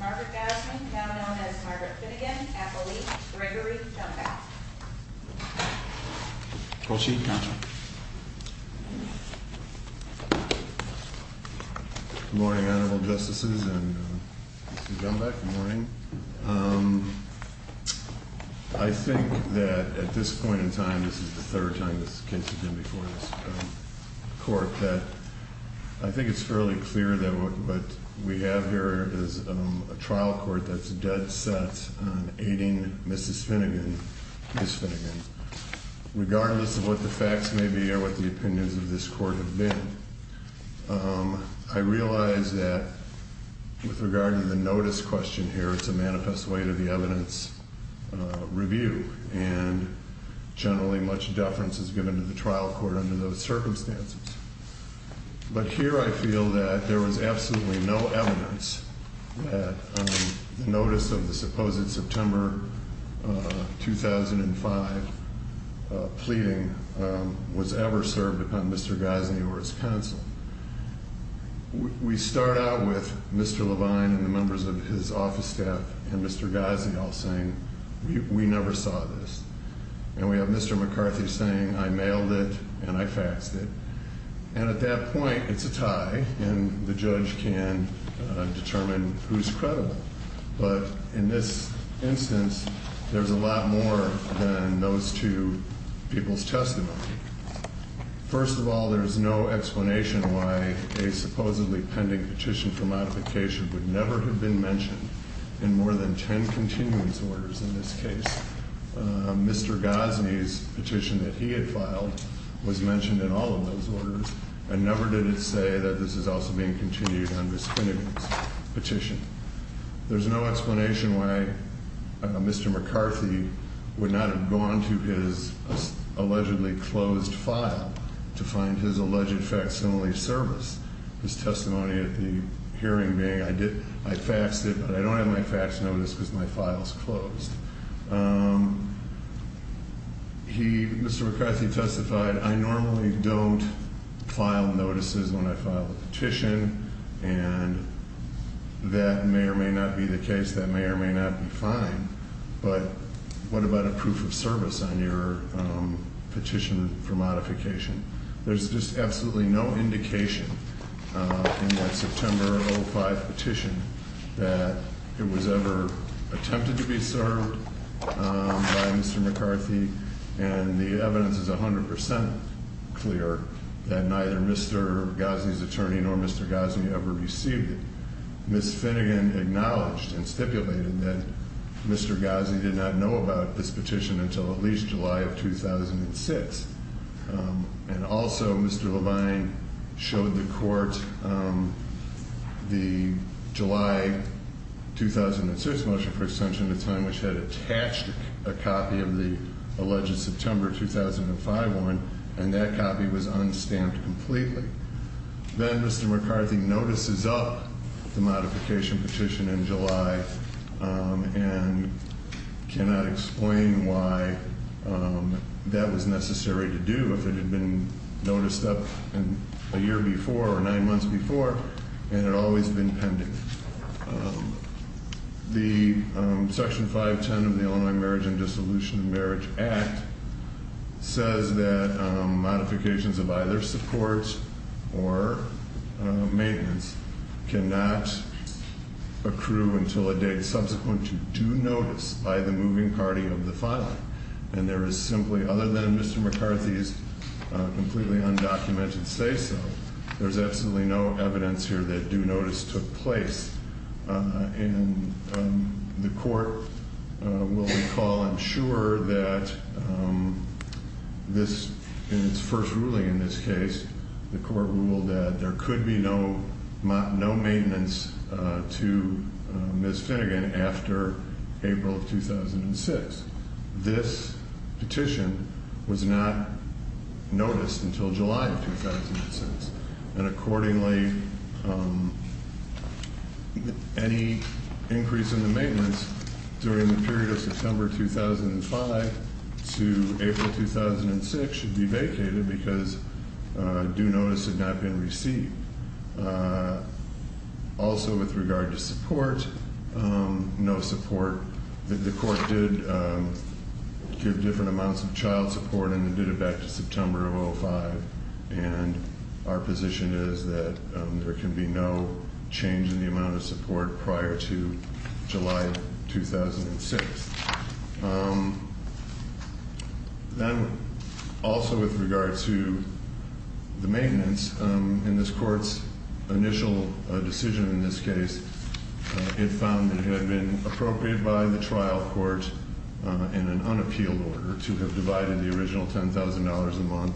Margaret Gosney, now known as Margaret Finnegan, Appalachia, Gregory Jumbach. Proceed, counsel. Good morning, Honorable Justices and Mr. Jumbach. Good morning. Good morning. I think that at this point in time, this is the third time this case has been before this court, that I think it's fairly clear that what we have here is a trial court that's dead set on aiding Mrs. Finnegan, Ms. Finnegan. Regardless of what the facts may be or what the opinions of this court have been, I realize that with regard to the notice question here, it's a manifest way to the evidence review, and generally much deference is given to the trial court under those circumstances. But here I feel that there was absolutely no evidence that the notice of the supposed September 2005 pleading was ever served upon Mr. Gosney or his counsel. We start out with Mr. Levine and the members of his office staff and Mr. Gosney all saying, we never saw this. And we have Mr. McCarthy saying, I mailed it and I faxed it. And at that point, it's a tie, and the judge can determine who's credible. But in this instance, there's a lot more than those two people's testimony. First of all, there's no explanation why a supposedly pending petition for modification would never have been mentioned in more than ten continuance orders in this case. Mr. Gosney's petition that he had filed was mentioned in all of those orders, and never did it say that this is also being continued on Ms. Finnegan's petition. There's no explanation why Mr. McCarthy would not have gone to his allegedly closed file to find his alleged facsimile service, his testimony at the hearing being, I faxed it, but I don't have my fax notice because my file's closed. Mr. McCarthy testified, I normally don't file notices when I file a petition, and that may or may not be the case, that may or may not be fine. But what about a proof of service on your petition for modification? There's just absolutely no indication in that September 05 petition that it was ever attempted to be served by Mr. McCarthy. And the evidence is 100% clear that neither Mr. Gosney's attorney nor Mr. Gosney ever received it. Ms. Finnegan acknowledged and stipulated that Mr. Gosney did not know about this petition until at least July of 2006. And also, Mr. Levine showed the court the July 2006 motion for extension of time which had attached a copy of the alleged September 2005 warrant, and that copy was unstamped completely. Then Mr. McCarthy notices up the modification petition in July and cannot explain why that was necessary to do if it had been noticed up a year before or nine months before and had always been pending. Section 510 of the Illinois Marriage and Dissolution of Marriage Act says that modifications of either support or maintenance cannot accrue until a date subsequent to due notice by the moving party of the filing. And there is simply, other than Mr. McCarthy's completely undocumented say-so, there's absolutely no evidence here that due notice took place. And the court will recall and ensure that in its first ruling in this case, the court ruled that there could be no maintenance to Ms. Finnegan after April of 2006. This petition was not noticed until July of 2006. And accordingly, any increase in the maintenance during the period of September 2005 to April 2006 should be vacated because due notice had not been received. Also with regard to support, no support. The court did give different amounts of child support and did it back to September of 2005. And our position is that there can be no change in the amount of support prior to July 2006. Then also with regard to the maintenance, in this court's initial decision in this case, it found it had been appropriate by the trial court in an unappealed order to have divided the original $10,000 a month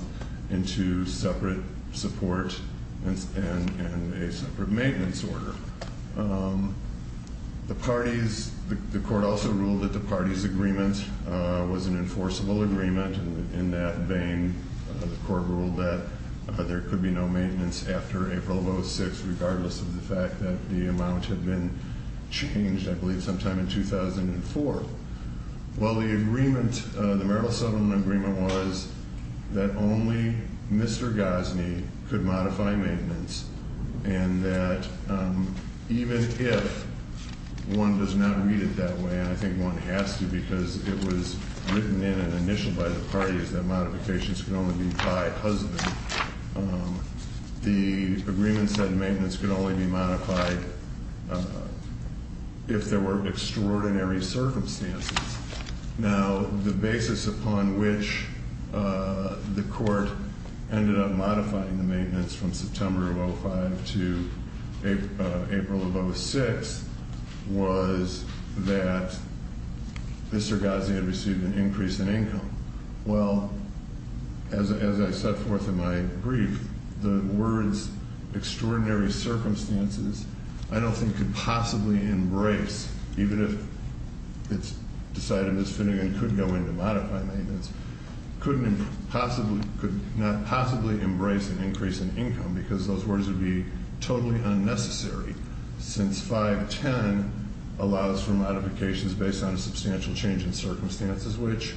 into separate support and a separate maintenance order. The court also ruled that the parties' agreement was an enforceable agreement. In that vein, the court ruled that there could be no maintenance after April of 2006 regardless of the fact that the amount had been changed, I believe, sometime in 2004. Well, the Merrill Sutherland agreement was that only Mr. Gosney could modify maintenance and that even if one does not read it that way, and I think one has to because it was written in and initialed by the parties that modifications could only be by husband, the agreement said maintenance could only be modified if there were extraordinary circumstances. Now, the basis upon which the court ended up modifying the maintenance from September of 05 to April of 06 was that Mr. Gosney had received an increase in income. Well, as I set forth in my brief, the words extraordinary circumstances, I don't think could possibly embrace, even if it's decided it's fitting and could go into modifying maintenance, could not possibly embrace an increase in income because those words would be totally unnecessary since 510 allows for modifications based on a substantial change in circumstances, which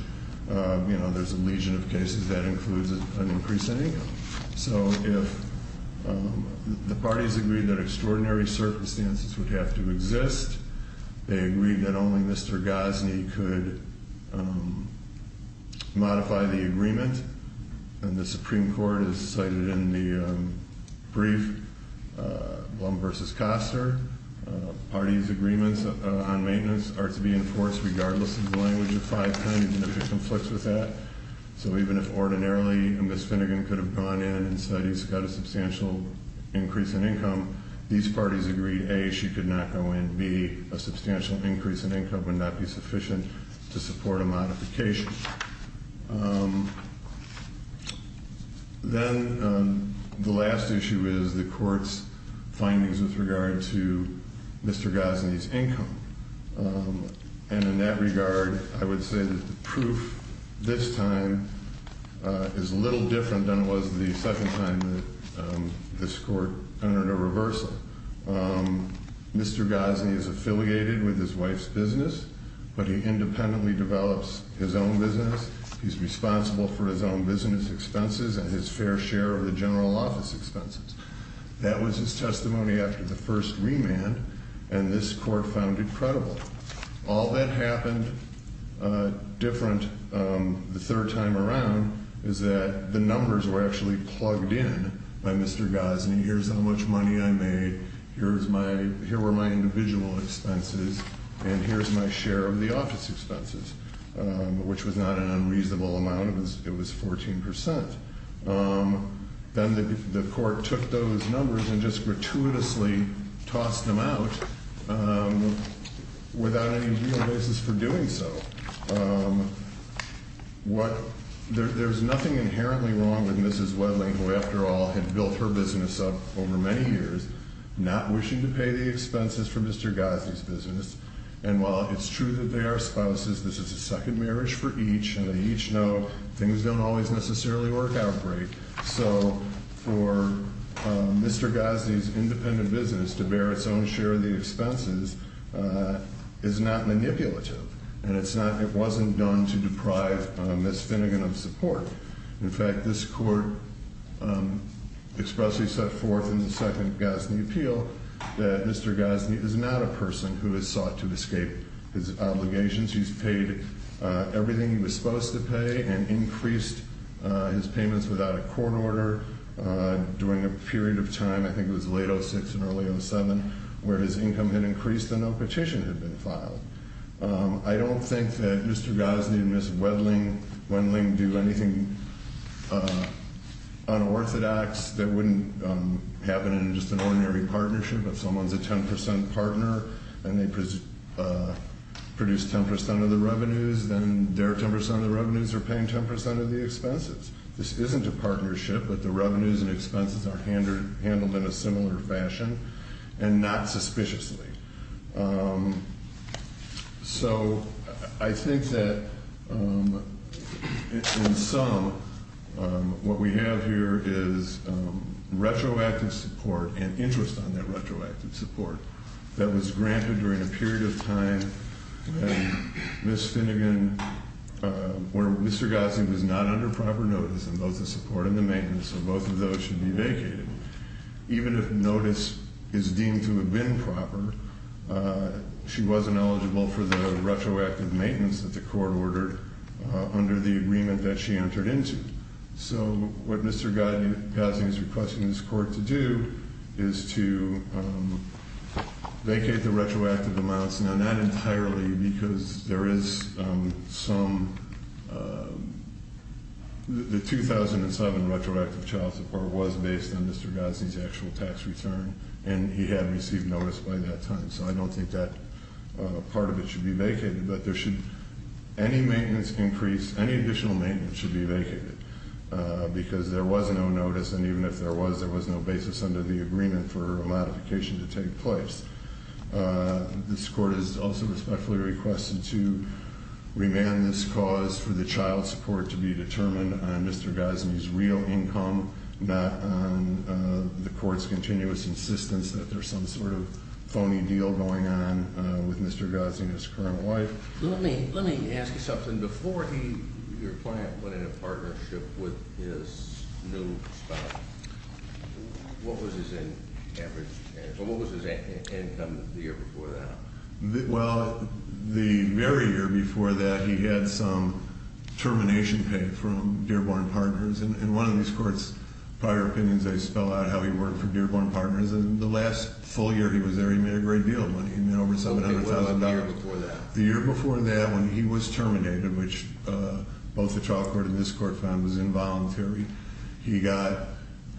there's a legion of cases that includes an increase in income. So if the parties agreed that extraordinary circumstances would have to exist, they agreed that only Mr. Gosney could modify the agreement, and the Supreme Court has cited in the brief Blum v. Koster, parties' agreements on maintenance are to be enforced regardless of the language of 510, even if it conflicts with that. So even if ordinarily Ms. Finnegan could have gone in and said he's got a substantial increase in income, these parties agreed A, she could not go in, B, a substantial increase in income would not be sufficient to support a modification. Then the last issue is the court's findings with regard to Mr. Gosney's income. And in that regard, I would say that the proof this time is a little different than it was the second time that this court entered a reversal. Mr. Gosney is affiliated with his wife's business, but he independently develops his own business. He's responsible for his own business expenses and his fair share of the general office expenses. That was his testimony after the first remand, and this court found it credible. All that happened different the third time around is that the numbers were actually plugged in by Mr. Gosney. Here's how much money I made, here were my individual expenses, and here's my share of the office expenses, which was not an unreasonable amount, it was 14%. Then the court took those numbers and just gratuitously tossed them out without any real basis for doing so. There's nothing inherently wrong with Mrs. Wedling, who after all had built her business up over many years, not wishing to pay the expenses for Mr. Gosney's business. And while it's true that they are spouses, this is a second marriage for each, and they each know things don't always necessarily work out great. So for Mr. Gosney's independent business to bear its own share of the expenses is not manipulative, and it wasn't done to deprive Ms. Finnegan of support. In fact, this court expressly set forth in the second Gosney appeal that Mr. Gosney is not a person who has sought to escape his obligations. He's paid everything he was supposed to pay and increased his payments without a court order during a period of time, I think it was late 06 and early 07, where his income had increased and no petition had been filed. I don't think that Mr. Gosney and Ms. Wedling do anything unorthodox that wouldn't happen in just an ordinary partnership. If someone's a 10% partner and they produce 10% of the revenues, then their 10% of the revenues are paying 10% of the expenses. This isn't a partnership, but the revenues and expenses are handled in a similar fashion and not suspiciously. So I think that in sum, what we have here is retroactive support and interest on that retroactive support that was granted during a period of time and Ms. Finnegan, where Mr. Gosney was not under proper notice and both the support and the maintenance of both of those should be vacated. Even if notice is deemed to have been proper, she wasn't eligible for the retroactive maintenance that the court ordered under the agreement that she entered into. So what Mr. Gosney is requesting this court to do is to vacate the retroactive amounts. Now, not entirely because there is some, the 2007 retroactive child support was based on Mr. Gosney's actual tax return and he had received notice by that time. So I don't think that part of it should be vacated, but any additional maintenance should be vacated because there was no notice and even if there was, there was no basis under the agreement for a modification to take place. This court has also respectfully requested to remand this cause for the child support to be determined on Mr. Gosney's real income, not on the court's continuous insistence that there's some sort of phony deal going on with Mr. Gosney and his current wife. Let me ask you something. Before he, your client, went in a partnership with his new spouse, what was his income the year before that? Well, the very year before that he had some termination pay from Dearborn Partners and one of these courts' prior opinions, they spell out how he worked for Dearborn Partners and the last full year he was there he made a great deal of money. He made over $700,000. Okay, what about the year before that? The year before that when he was terminated, which both the trial court and this court found was involuntary, he got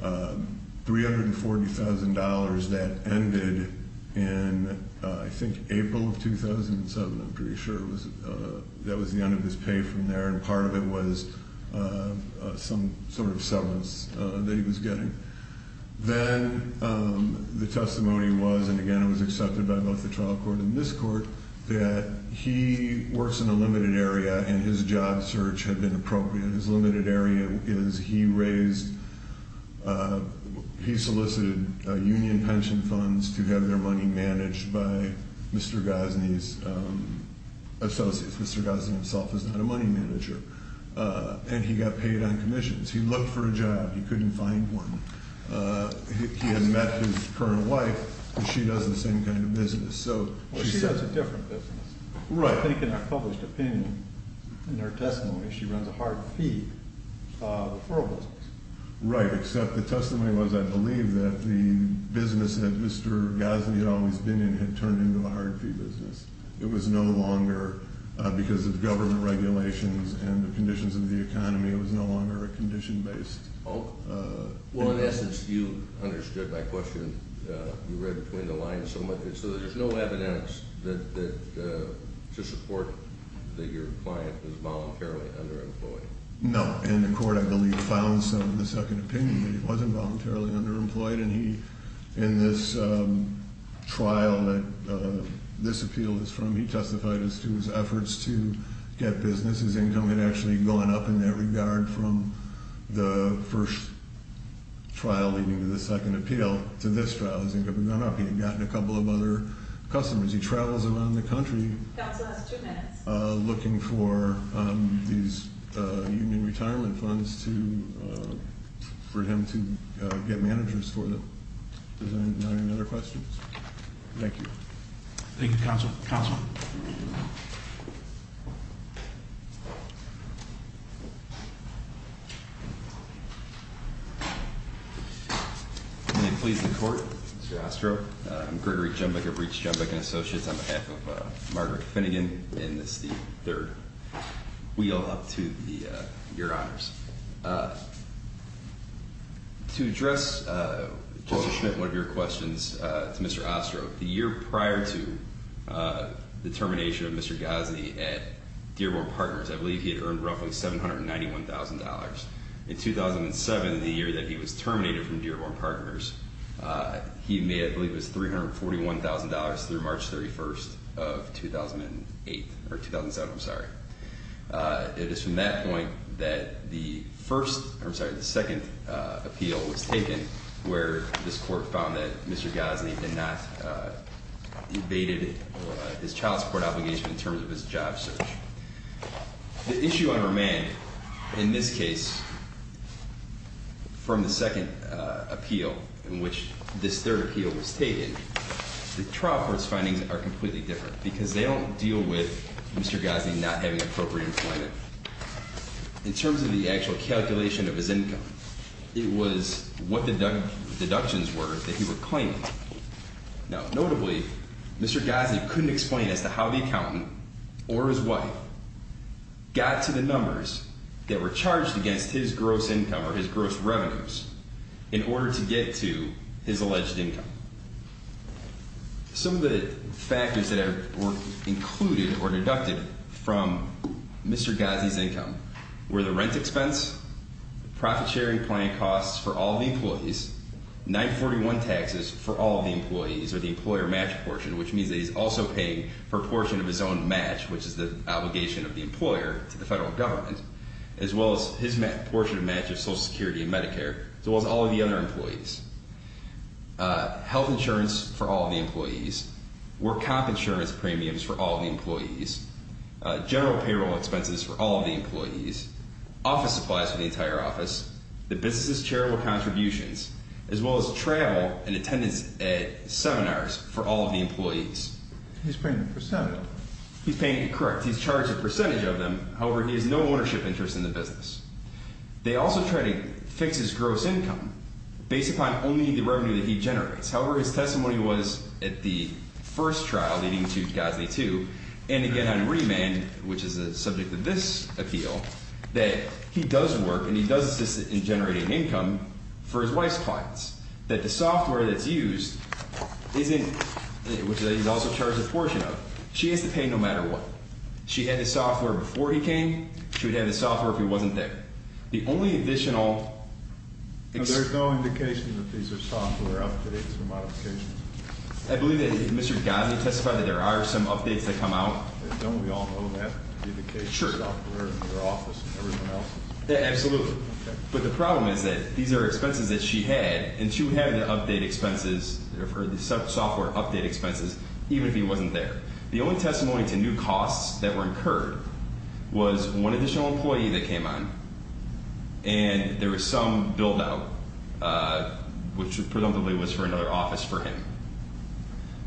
$340,000 that ended in, I think, April of 2007. I'm pretty sure that was the end of his pay from there and part of it was some sort of severance that he was getting. Then the testimony was, and again it was accepted by both the trial court and this court, that he works in a limited area and his job search had been appropriate. His limited area is he raised, he solicited union pension funds to have their money managed by Mr. Gosney's associates. Mr. Gosney himself is not a money manager and he got paid on commissions. He looked for a job. He couldn't find one. He had met his current wife and she does the same kind of business. She has a different business. Right. I think in her published opinion, in her testimony, she runs a hard fee referral business. Right, except the testimony was, I believe, that the business that Mr. Gosney had always been in had turned into a hard fee business. It was no longer, because of government regulations and the conditions of the economy, it was no longer a condition-based business. Well, in essence, you understood my question. You read between the lines, so there's no evidence to support that your client was voluntarily underemployed. No, and the court, I believe, found some in the second opinion that he wasn't voluntarily underemployed and he, in this trial that this appeal is from, he testified as to his efforts to get business. His income had actually gone up in that regard from the first trial leading to the second appeal to this trial. His income had gone up. He had gotten a couple of other customers. He travels around the country looking for these union retirement funds for him to get managers for them. Are there any other questions? Thank you. Thank you, Counsel. May it please the court. Mr. Ostro. I'm Gregory Jumbeck of Reach Jumbeck and Associates on behalf of Margaret Finnegan. And this is the third wheel up to your honors. To address, Justice Schmidt, one of your questions to Mr. Ostro. The year prior to the termination of Mr. Ghazni at Dearborn Partners, I believe he had earned roughly $791,000. In 2007, the year that he was terminated from Dearborn Partners, he made, I believe, $341,000 through March 31st of 2007. It is from that point that the second appeal was taken where this court found that Mr. Ghazni had not evaded his child support obligation in terms of his job search. The issue on remand in this case from the second appeal in which this third appeal was taken, the trial court's findings are completely different because they don't deal with Mr. Ghazni not having appropriate employment. In terms of the actual calculation of his income, it was what the deductions were that he was claiming. Now notably, Mr. Ghazni couldn't explain as to how the accountant or his wife got to the numbers that were charged against his gross income or his gross revenues in order to get to his alleged income. Some of the factors that were included or deducted from Mr. Ghazni's income were the rent expense, profit sharing plan costs for all the employees, 941 taxes for all the employees or the employer match portion, which means that he's also paying for a portion of his own match, which is the obligation of the employer to the federal government, as well as his portion of match of Social Security and Medicare, as well as all of the other employees. Health insurance for all of the employees, work comp insurance premiums for all of the employees, general payroll expenses for all of the employees, office supplies for the entire office, the business's charitable contributions, as well as travel and attendance at seminars for all of the employees. He's paying the percentage. He's paying, correct. He's charged a percentage of them. However, he has no ownership interest in the business. They also try to fix his gross income based upon only the revenue that he generates. However, his testimony was at the first trial, leading to Ghazni 2, and again on remand, which is the subject of this appeal, that he does work and he does assist in generating income for his wife's clients, that the software that's used isn't, which he's also charged a portion of. She has to pay no matter what. She had the software before he came. She would have the software if he wasn't there. The only additional- There's no indication that these are software updates or modifications. I believe that Mr. Ghazni testified that there are some updates that come out. Don't we all know that? Sure. The software in their office and everything else. Absolutely. But the problem is that these are expenses that she had, and she would have the update expenses, the software update expenses, even if he wasn't there. The only testimony to new costs that were incurred was one additional employee that came on, and there was some build-out, which presumably was for another office for him.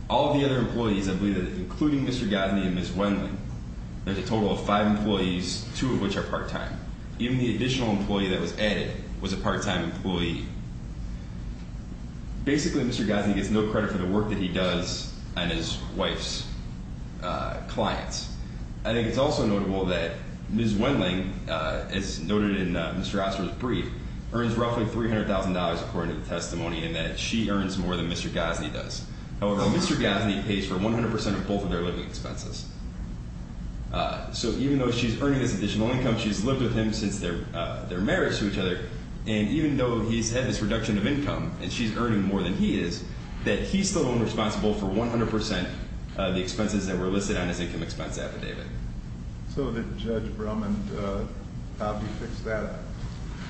All of the other employees, I believe, including Mr. Ghazni and Ms. Wendland, there's a total of five employees, two of which are part-time. Even the additional employee that was added was a part-time employee. Basically, Mr. Ghazni gets no credit for the work that he does on his wife's clients. I think it's also notable that Ms. Wendland, as noted in Mr. Osler's brief, earns roughly $300,000, according to the testimony, and that she earns more than Mr. Ghazni does. However, Mr. Ghazni pays for 100% of both of their living expenses. So even though she's earning this additional income, she's lived with him since their marriage to each other, and even though he's had this reduction of income, and she's earning more than he is, that he's still only responsible for 100% of the expenses that were listed on his income expense affidavit. So did Judge Brum and Dobby fix that up?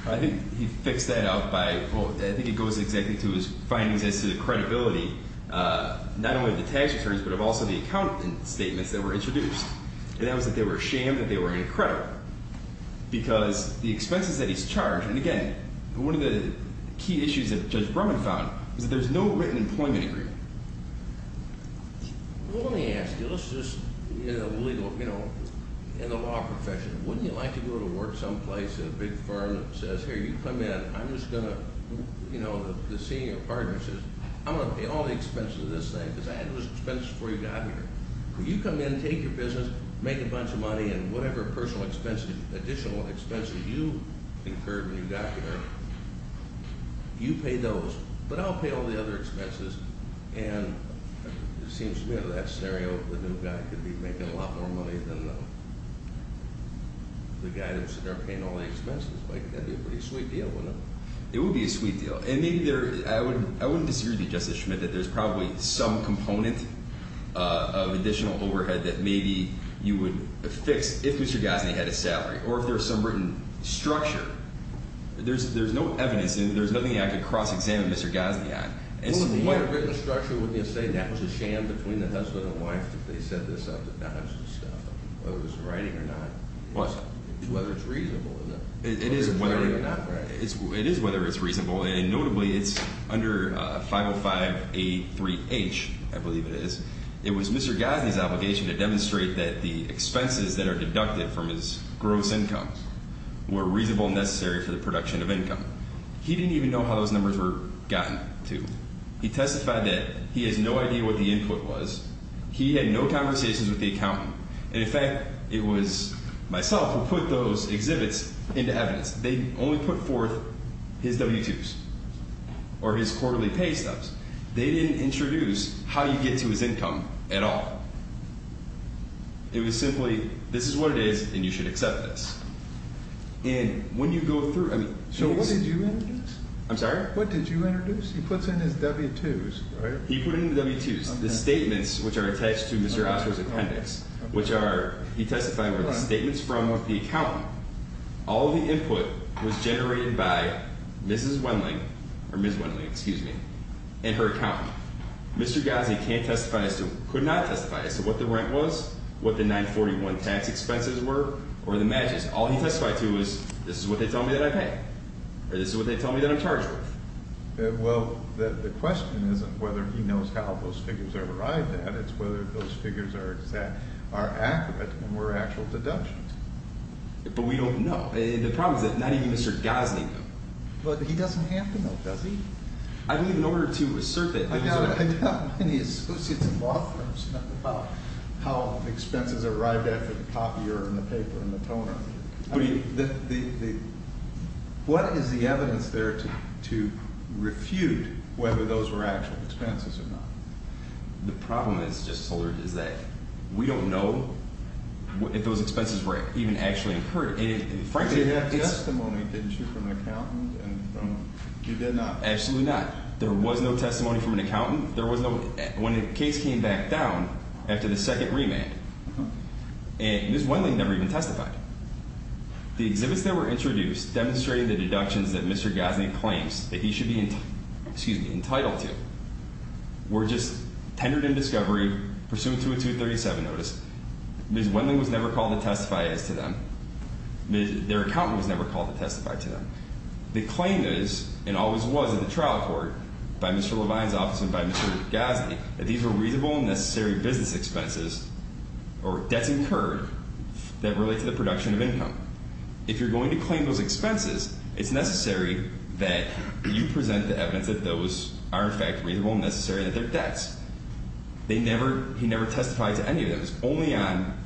I think he fixed that up by, well, I think it goes exactly to his findings as to the credibility, not only of the tax returns, but of also the accountant statements that were introduced. And that was that they were ashamed that they were going to credit him because the expenses that he's charged, and again, one of the key issues that Judge Brum had found was that there's no written employment agreement. Well, let me ask you, let's just, you know, legal, you know, in the law profession, wouldn't you like to go to work someplace, a big firm that says, you come in, I'm just going to, you know, the senior partner says, I'm going to pay all the expenses of this thing because I had those expenses before you got here. You come in, take your business, make a bunch of money, and whatever personal expenses, additional expenses you incurred when you got here, you pay those. But I'll pay all the other expenses, and it seems to me that scenario, the new guy could be making a lot more money than the guy that's sitting there paying all the expenses. Like, that'd be a pretty sweet deal, wouldn't it? It would be a sweet deal. And maybe there, I wouldn't disagree with you, Justice Schmidt, that there's probably some component of additional overhead that maybe you would fix if Mr. Gosney had a salary, or if there was some written structure. There's no evidence, and there's nothing I could cross-examine Mr. Gosney on. Well, if he had a written structure, wouldn't you say that was a sham between the husband and wife that they set this up, that that was the stuff, whether it was in writing or not? What? Whether it's reasonable or not. It is whether it's reasonable, and notably, it's under 505A3H, I believe it is. It was Mr. Gosney's obligation to demonstrate that the expenses that are deducted from his gross income were reasonable and necessary for the production of income. He didn't even know how those numbers were gotten to. He testified that he has no idea what the input was. He had no conversations with the accountant. And, in fact, it was myself who put those exhibits into evidence. They only put forth his W-2s or his quarterly pay stubs. They didn't introduce how you get to his income at all. It was simply, this is what it is, and you should accept this. And when you go through, I mean... So what did you introduce? I'm sorry? What did you introduce? He puts in his W-2s, right? He put in the W-2s. The statements which are attached to Mr. Oster's appendix, which he testified were the statements from the accountant. All of the input was generated by Mrs. Wenling, or Ms. Wenling, excuse me, and her accountant. Mr. Gosney can't testify as to, could not testify as to what the rent was, what the 941 tax expenses were, or the matches. All he testified to was, this is what they tell me that I pay, or this is what they tell me that I'm charged with. Well, the question isn't whether he knows how those figures are arrived at. It's whether those figures are accurate and were actual deductions. But we don't know. The problem is that not even Mr. Gosney knows. But he doesn't have to know, does he? I believe in order to assert that... I doubt many associates in law firms know about how expenses are arrived at for the copier and the paper and the toner. What is the evidence there to refute whether those were actual expenses or not? The problem is, Justice Holder, is that we don't know if those expenses were even actually incurred. Frankly, it's... You did have testimony, didn't you, from an accountant? You did not. Absolutely not. There was no testimony from an accountant. When the case came back down after the second remand, Ms. Wenling never even testified. The exhibits that were introduced demonstrating the deductions that Mr. Gosney claims that he should be entitled to were just tendered in discovery, pursuant to a 237 notice. Ms. Wenling was never called to testify as to them. Their accountant was never called to testify to them. The claim is, and always was in the trial court by Mr. Levine's office and by Mr. Gosney, that these were reasonable and necessary business expenses or debts incurred that relate to the production of income. If you're going to claim those expenses, it's necessary that you present the evidence that those are in fact reasonable and necessary and that they're debts. They never... He never testified to any of those. Only on...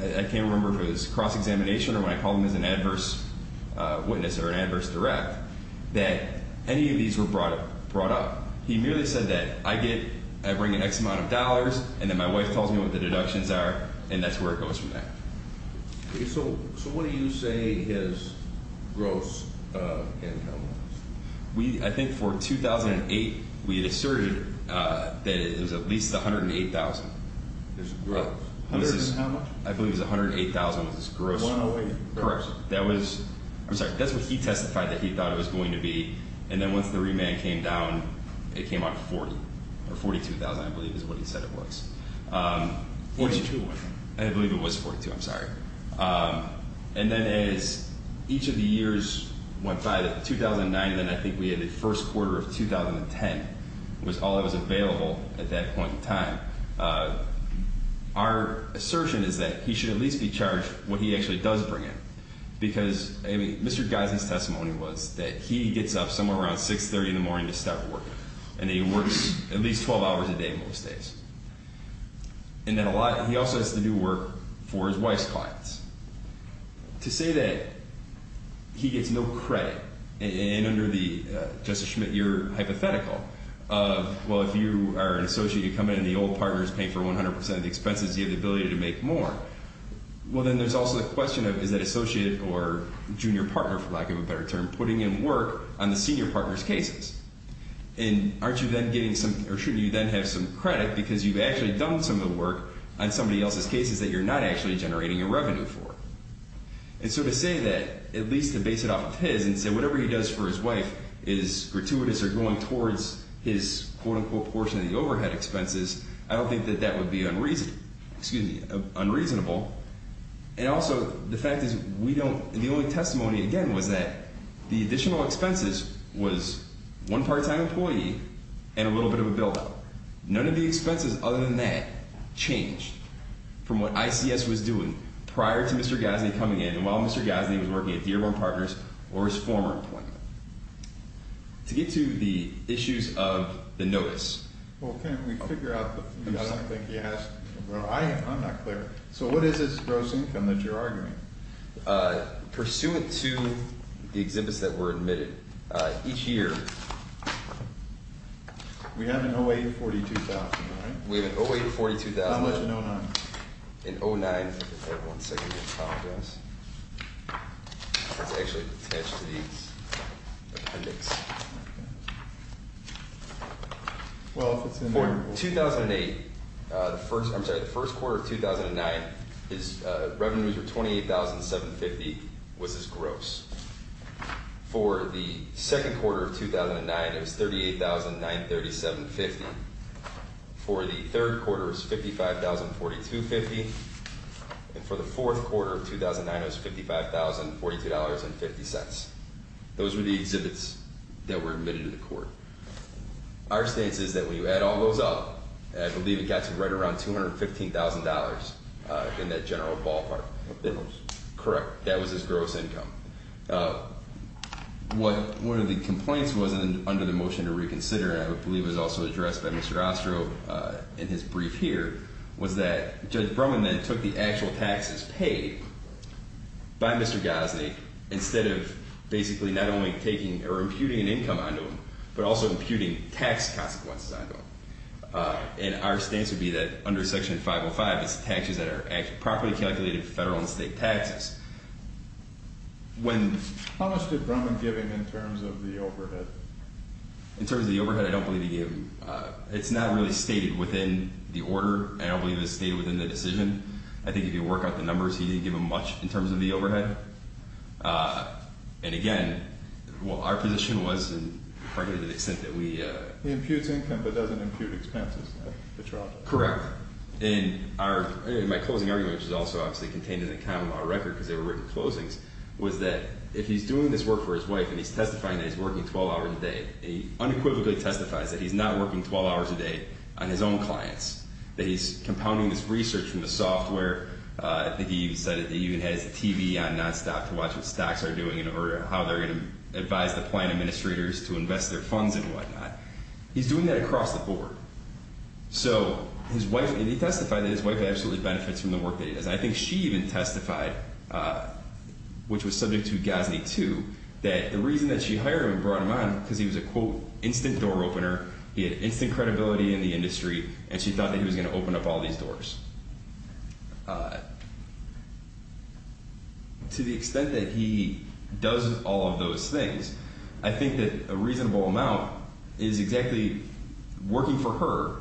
I can't remember if it was cross-examination or when I called him as an adverse witness or an adverse direct, that any of these were brought up. He merely said that I get, I bring an X amount of dollars, and then my wife tells me what the deductions are, and that's where it goes from there. Okay, so what do you say his gross income was? I think for 2008, we had asserted that it was at least $108,000. His gross? I believe it was $108,000 was his gross. Correct. That was... I'm sorry, that's what he testified that he thought it was going to be. And then once the remand came down, it came out to $40,000 or $42,000, I believe is what he said it was. $42,000. I believe it was $42,000. I'm sorry. And then as each of the years went by, 2009, then I think we had the first quarter of 2010 was all that was available at that point in time. Our assertion is that he should at least be charged what he actually does bring in. Because, I mean, Mr. Geisen's testimony was that he gets up somewhere around 6.30 in the morning to start work, and he works at least 12 hours a day most days. And then a lot, he also has to do work for his wife's clients. To say that he gets no credit, and under the, Justice Schmidt, your hypothetical of, well, if you are an associate, you come in, and the old partner is paying for 100% of the expenses, you have the ability to make more. Well, then there's also the question of, is that associate or junior partner, for lack of a better term, putting in work on the senior partner's cases? And aren't you then getting some, or shouldn't you then have some credit because you've actually done some of the work on somebody else's cases that you're not actually generating a revenue for? And so to say that, at least to base it off of his and say whatever he does for his wife is gratuitous or going towards his, quote-unquote, portion of the overhead expenses, I don't think that that would be unreasonable. And also, the fact is, we don't, the only testimony, again, was that the additional expenses was one part-time employee and a little bit of a build-up. None of the expenses other than that changed from what ICS was doing prior to Mr. Gasney coming in and while Mr. Gasney was working at Dearborn Partners or his former employment. To get to the issues of the notice. Well, can't we figure out the, I don't think he has, I'm not clear. So what is his gross income that you're arguing? Pursuant to the exhibits that were admitted, each year. We have an 08-42,000, right? We have an 08-42,000. How much in 09? In 09, hold on one second, I apologize. It's actually attached to these appendix. For 2008, I'm sorry, the first quarter of 2009, his revenues were 28,750, was his gross. For the second quarter of 2009, it was 38,937.50. For the third quarter, it was 55,042.50. And for the fourth quarter of 2009, it was 55,042.50. Those were the exhibits that were admitted to the court. Our stance is that when you add all those up, I believe it got to right around $215,000 in that general ballpark. Correct. That was his gross income. One of the complaints was under the motion to reconsider, and I believe it was also addressed by Mr. Ostro in his brief here, was that Judge Brumman then took the actual taxes paid by Mr. Gosney, instead of basically not only imputing an income onto him, but also imputing tax consequences onto him. And our stance would be that under Section 505, it's taxes that are properly calculated federal and state taxes. How much did Brumman give him in terms of the overhead? In terms of the overhead, I don't believe he gave him—it's not really stated within the order. I don't believe it's stated within the decision. I think if you work out the numbers, he didn't give him much in terms of the overhead. And again, our position was, frankly, to the extent that we— He imputes income but doesn't impute expenses. Correct. And my closing argument, which is also obviously contained in the common law record because they were written closings, was that if he's doing this work for his wife and he's testifying that he's working 12 hours a day, he unequivocally testifies that he's not working 12 hours a day on his own clients, that he's compounding this research from the software. I think he even said that he even has a TV on nonstop to watch what stocks are doing in order—how they're going to advise the plan administrators to invest their funds and whatnot. He's doing that across the board. So his wife—and he testified that his wife absolutely benefits from the work that he does. I think she even testified, which was subject to GASNY 2, that the reason that she hired him and brought him on because he was a, quote, instant door opener, he had instant credibility in the industry, and she thought that he was going to open up all these doors. To the extent that he does all of those things, I think that a reasonable amount is exactly working for her,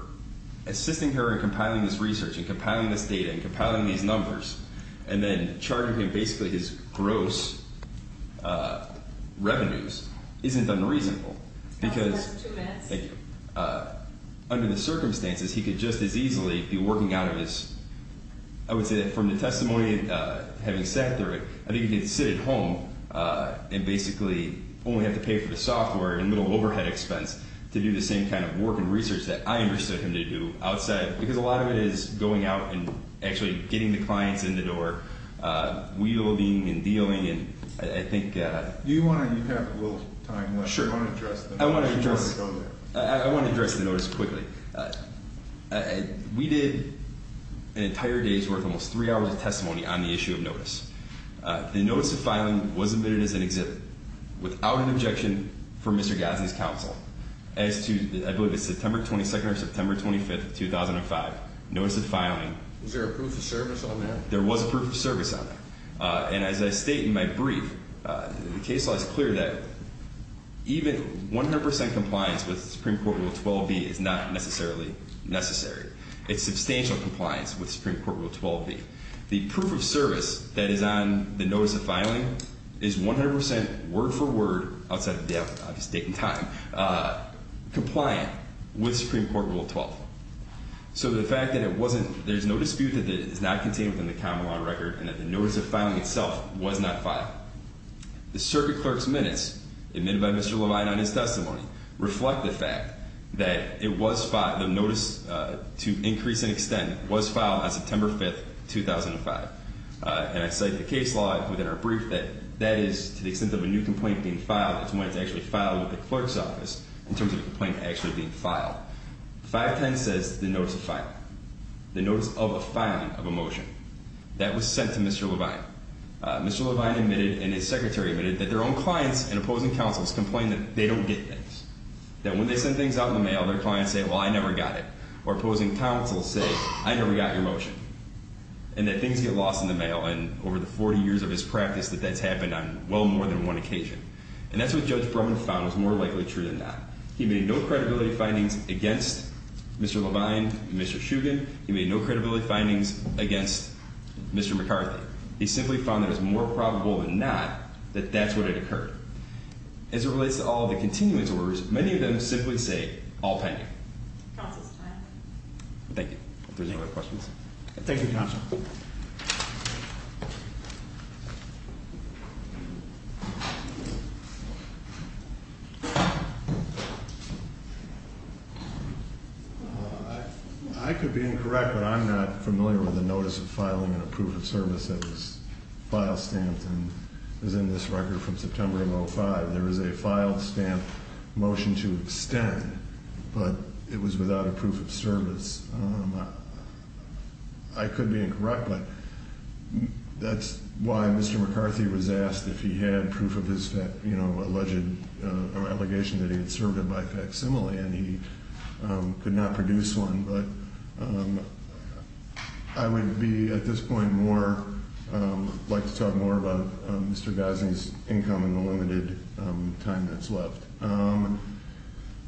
assisting her in compiling this research and compiling this data and compiling these numbers, and then charging him basically his gross revenues isn't unreasonable because— Your time starts in two minutes. Thank you. Under the circumstances, he could just as easily be working out of his— I would say that from the testimony and having sat through it, I think he could sit at home and basically only have to pay for the software and a little overhead expense to do the same kind of work and research that I enlisted him to do outside because a lot of it is going out and actually getting the clients in the door, wielding and dealing, and I think— Do you want to—you have a little time left. Sure. I want to address the notice quickly. We did an entire day's worth, almost three hours of testimony on the issue of notice. The notice of filing was admitted as an exhibit without an objection from Mr. Gadsden's counsel as to, I believe it's September 22nd or September 25th, 2005, notice of filing. Was there a proof of service on that? There was a proof of service on that. And as I state in my brief, the case law is clear that even 100 percent compliance with Supreme Court Rule 12b is not necessarily necessary. It's substantial compliance with Supreme Court Rule 12b. The proof of service that is on the notice of filing is 100 percent, word for word, outside of the obvious date and time, compliant with Supreme Court Rule 12. So the fact that it wasn't—there's no dispute that it is not contained within the common law record and that the notice of filing itself was not filed. The circuit clerk's minutes, admitted by Mr. Levine on his testimony, reflect the fact that it was filed—the notice, to increase in extent, was filed on September 5th, 2005. And I cite the case law within our brief that that is, to the extent of a new complaint being filed, it's when it's actually filed with the clerk's office in terms of a complaint actually being filed. 510 says the notice of filing, the notice of a filing of a motion. That was sent to Mr. Levine. Mr. Levine admitted, and his secretary admitted, that their own clients and opposing counsels complained that they don't get things. That when they send things out in the mail, their clients say, well, I never got it. Or opposing counsels say, I never got your motion. And that things get lost in the mail. And over the 40 years of his practice, that that's happened on well more than one occasion. And that's what Judge Brumman found was more likely true than not. He made no credibility findings against Mr. Levine and Mr. Shugan. He made no credibility findings against Mr. McCarthy. He simply found that it was more probable than not that that's what had occurred. As it relates to all the continuance orders, many of them simply say, all pending. Counsel's time. Thank you. If there's no other questions. Thank you, counsel. I could be incorrect, but I'm not familiar with the notice of filing a proof of service that was file stamped and is in this record from September of 05. There is a file stamp motion to extend, but it was without a proof of service. I could be incorrect, but that's why Mr. McCarthy was asked if he had proof of his alleged allegation that he had served by facsimile. And he could not produce one. But I would be at this point more like to talk more about Mr. Gosling's income in the limited time that's left.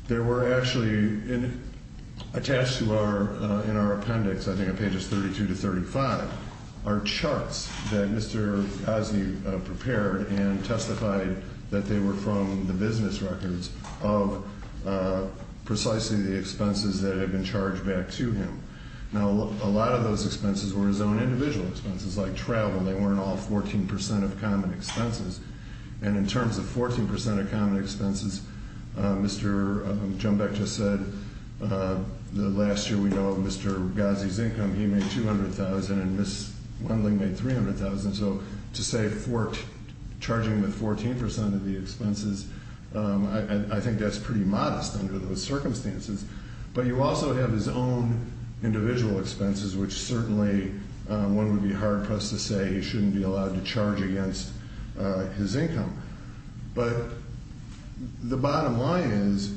There were actually attached to our, in our appendix, I think on pages 32 to 35, are charts that Mr. Gosling prepared and testified that they were from the business records of precisely the expenses that had been charged back to him. Now, a lot of those expenses were his own individual expenses like travel. They weren't all 14% of common expenses. And in terms of 14% of common expenses, Mr. Jumbach just said the last year we know of Mr. Gosling's income, he made $200,000 and Ms. Gosling made $300,000. So to say charging with 14% of the expenses, I think that's pretty modest under those circumstances. But you also have his own individual expenses, which certainly one would be hard-pressed to say he shouldn't be allowed to charge against his income. But the bottom line is,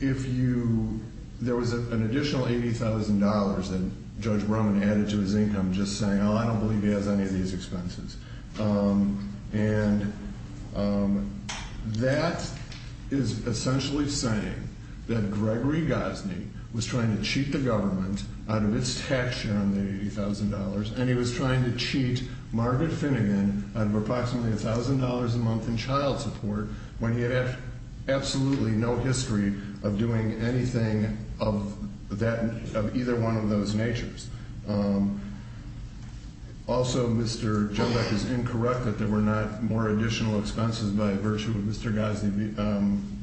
if you, there was an additional $80,000 that Judge Brumman added to his income just saying, oh, I don't believe he has any of these expenses. And that is essentially saying that Gregory Gosling was trying to cheat the government out of its tax share on the $80,000. And he was trying to cheat Margaret Finnegan out of approximately $1,000 a month in child support when he had absolutely no history of doing anything of either one of those natures. Also, Mr. Jumbach is incorrect that there were not more additional expenses by virtue of Mr. Gosling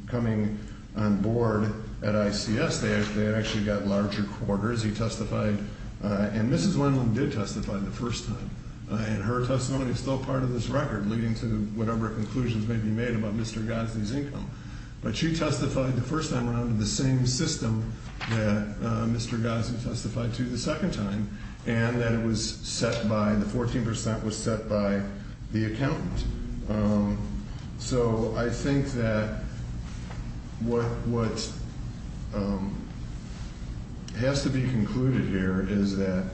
coming on board at ICS. They actually got larger quarters. He testified, and Mrs. Wendland did testify the first time. And her testimony is still part of this record leading to whatever conclusions may be made about Mr. Gosling's income. But she testified the first time around in the same system that Mr. Gosling testified to the second time, and that it was set by, the 14% was set by the accountant. So I think that what has to be concluded here is that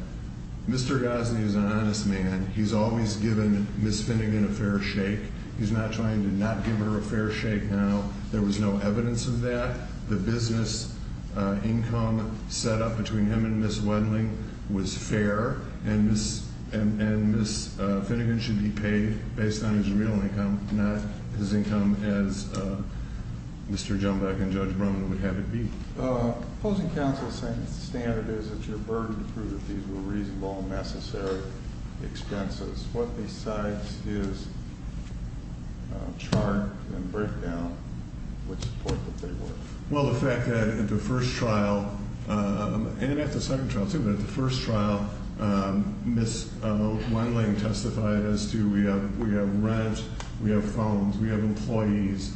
Mr. Gosling is an honest man. He's always given Miss Finnegan a fair shake. He's not trying to not give her a fair shake now. There was no evidence of that. The business income set up between him and Miss Wendland was fair. And Miss Finnegan should be paid based on his real income, not his income as Mr. Jumbach and Judge Brumman would have it be. Opposing counsel's standard is that you're burdened to prove that these were reasonable and necessary expenses. What besides his chart and breakdown would support that they were? Well, the fact that at the first trial, and at the second trial too, but at the first trial, Miss Wendland testified as to we have rent, we have phones, we have employees.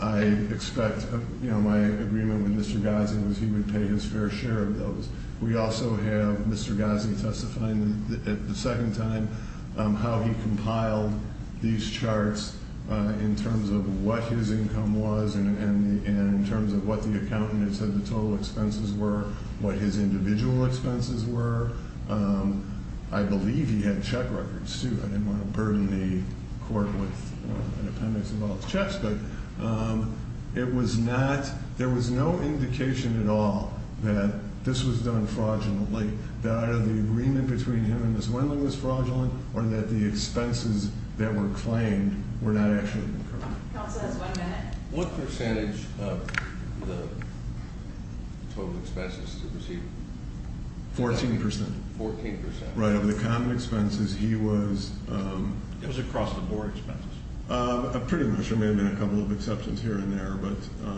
I expect my agreement with Mr. Gosling was he would pay his fair share of those. We also have Mr. Gosling testifying at the second time how he compiled these charts in terms of what his income was, and in terms of what the accountant had said the total expenses were, what his individual expenses were. I believe he had check records too. I didn't want to burden the court with an appendix of all his checks, but it was not, there was no indication at all that this was done fraudulently, that either the agreement between him and Miss Wendland was fraudulent, or that the expenses that were claimed were not actually incurred. Counsel has one minute. What percentage of the total expenses was he? 14%. 14%. Right, of the common expenses, he was- It was across the board expenses. Pretty much. There may have been a couple of exceptions here and there, but-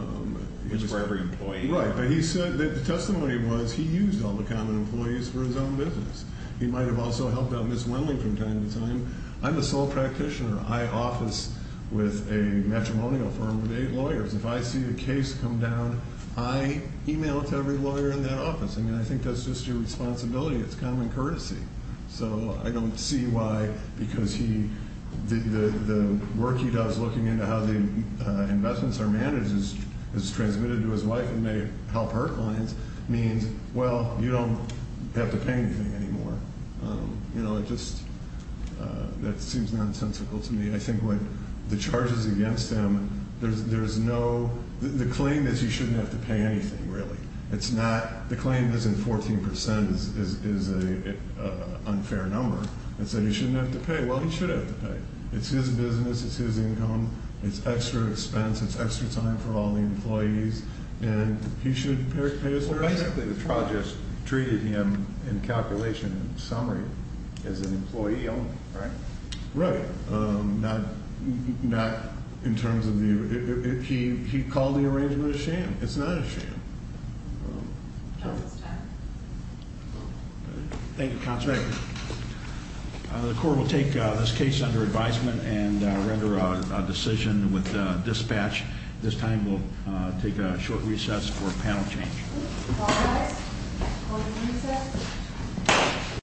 Which is for every employee. Right, but he said that the testimony was he used all the common employees for his own business. He might have also helped out Miss Wendland from time to time. I'm a sole practitioner. I office with a matrimonial firm of eight lawyers. If I see a case come down, I email it to every lawyer in that office. I mean, I think that's just your responsibility. It's common courtesy. So, I don't see why, because he, the work he does looking into how the investments are managed is transmitted to his wife and may help her clients, means, well, you don't have to pay anything anymore. You know, it just, that seems nonsensical to me. I think what the charges against him, there's no, the claim is you shouldn't have to pay anything, really. It's not, the claim isn't 14% is an unfair number, and so you shouldn't have to pay. Well, he should have to pay. It's his business. It's his income. It's extra expense. It's extra time for all the employees, and he should pay his fair share. Basically, the trial just treated him in calculation and summary as an employee only, right? Right. Not in terms of the, he called the arrangement a sham. It's not a sham. Thank you, counsel. The court will take this case under advisement and render a decision with dispatch. At this time, we'll take a short recess for panel change. All rise. Court is in recess.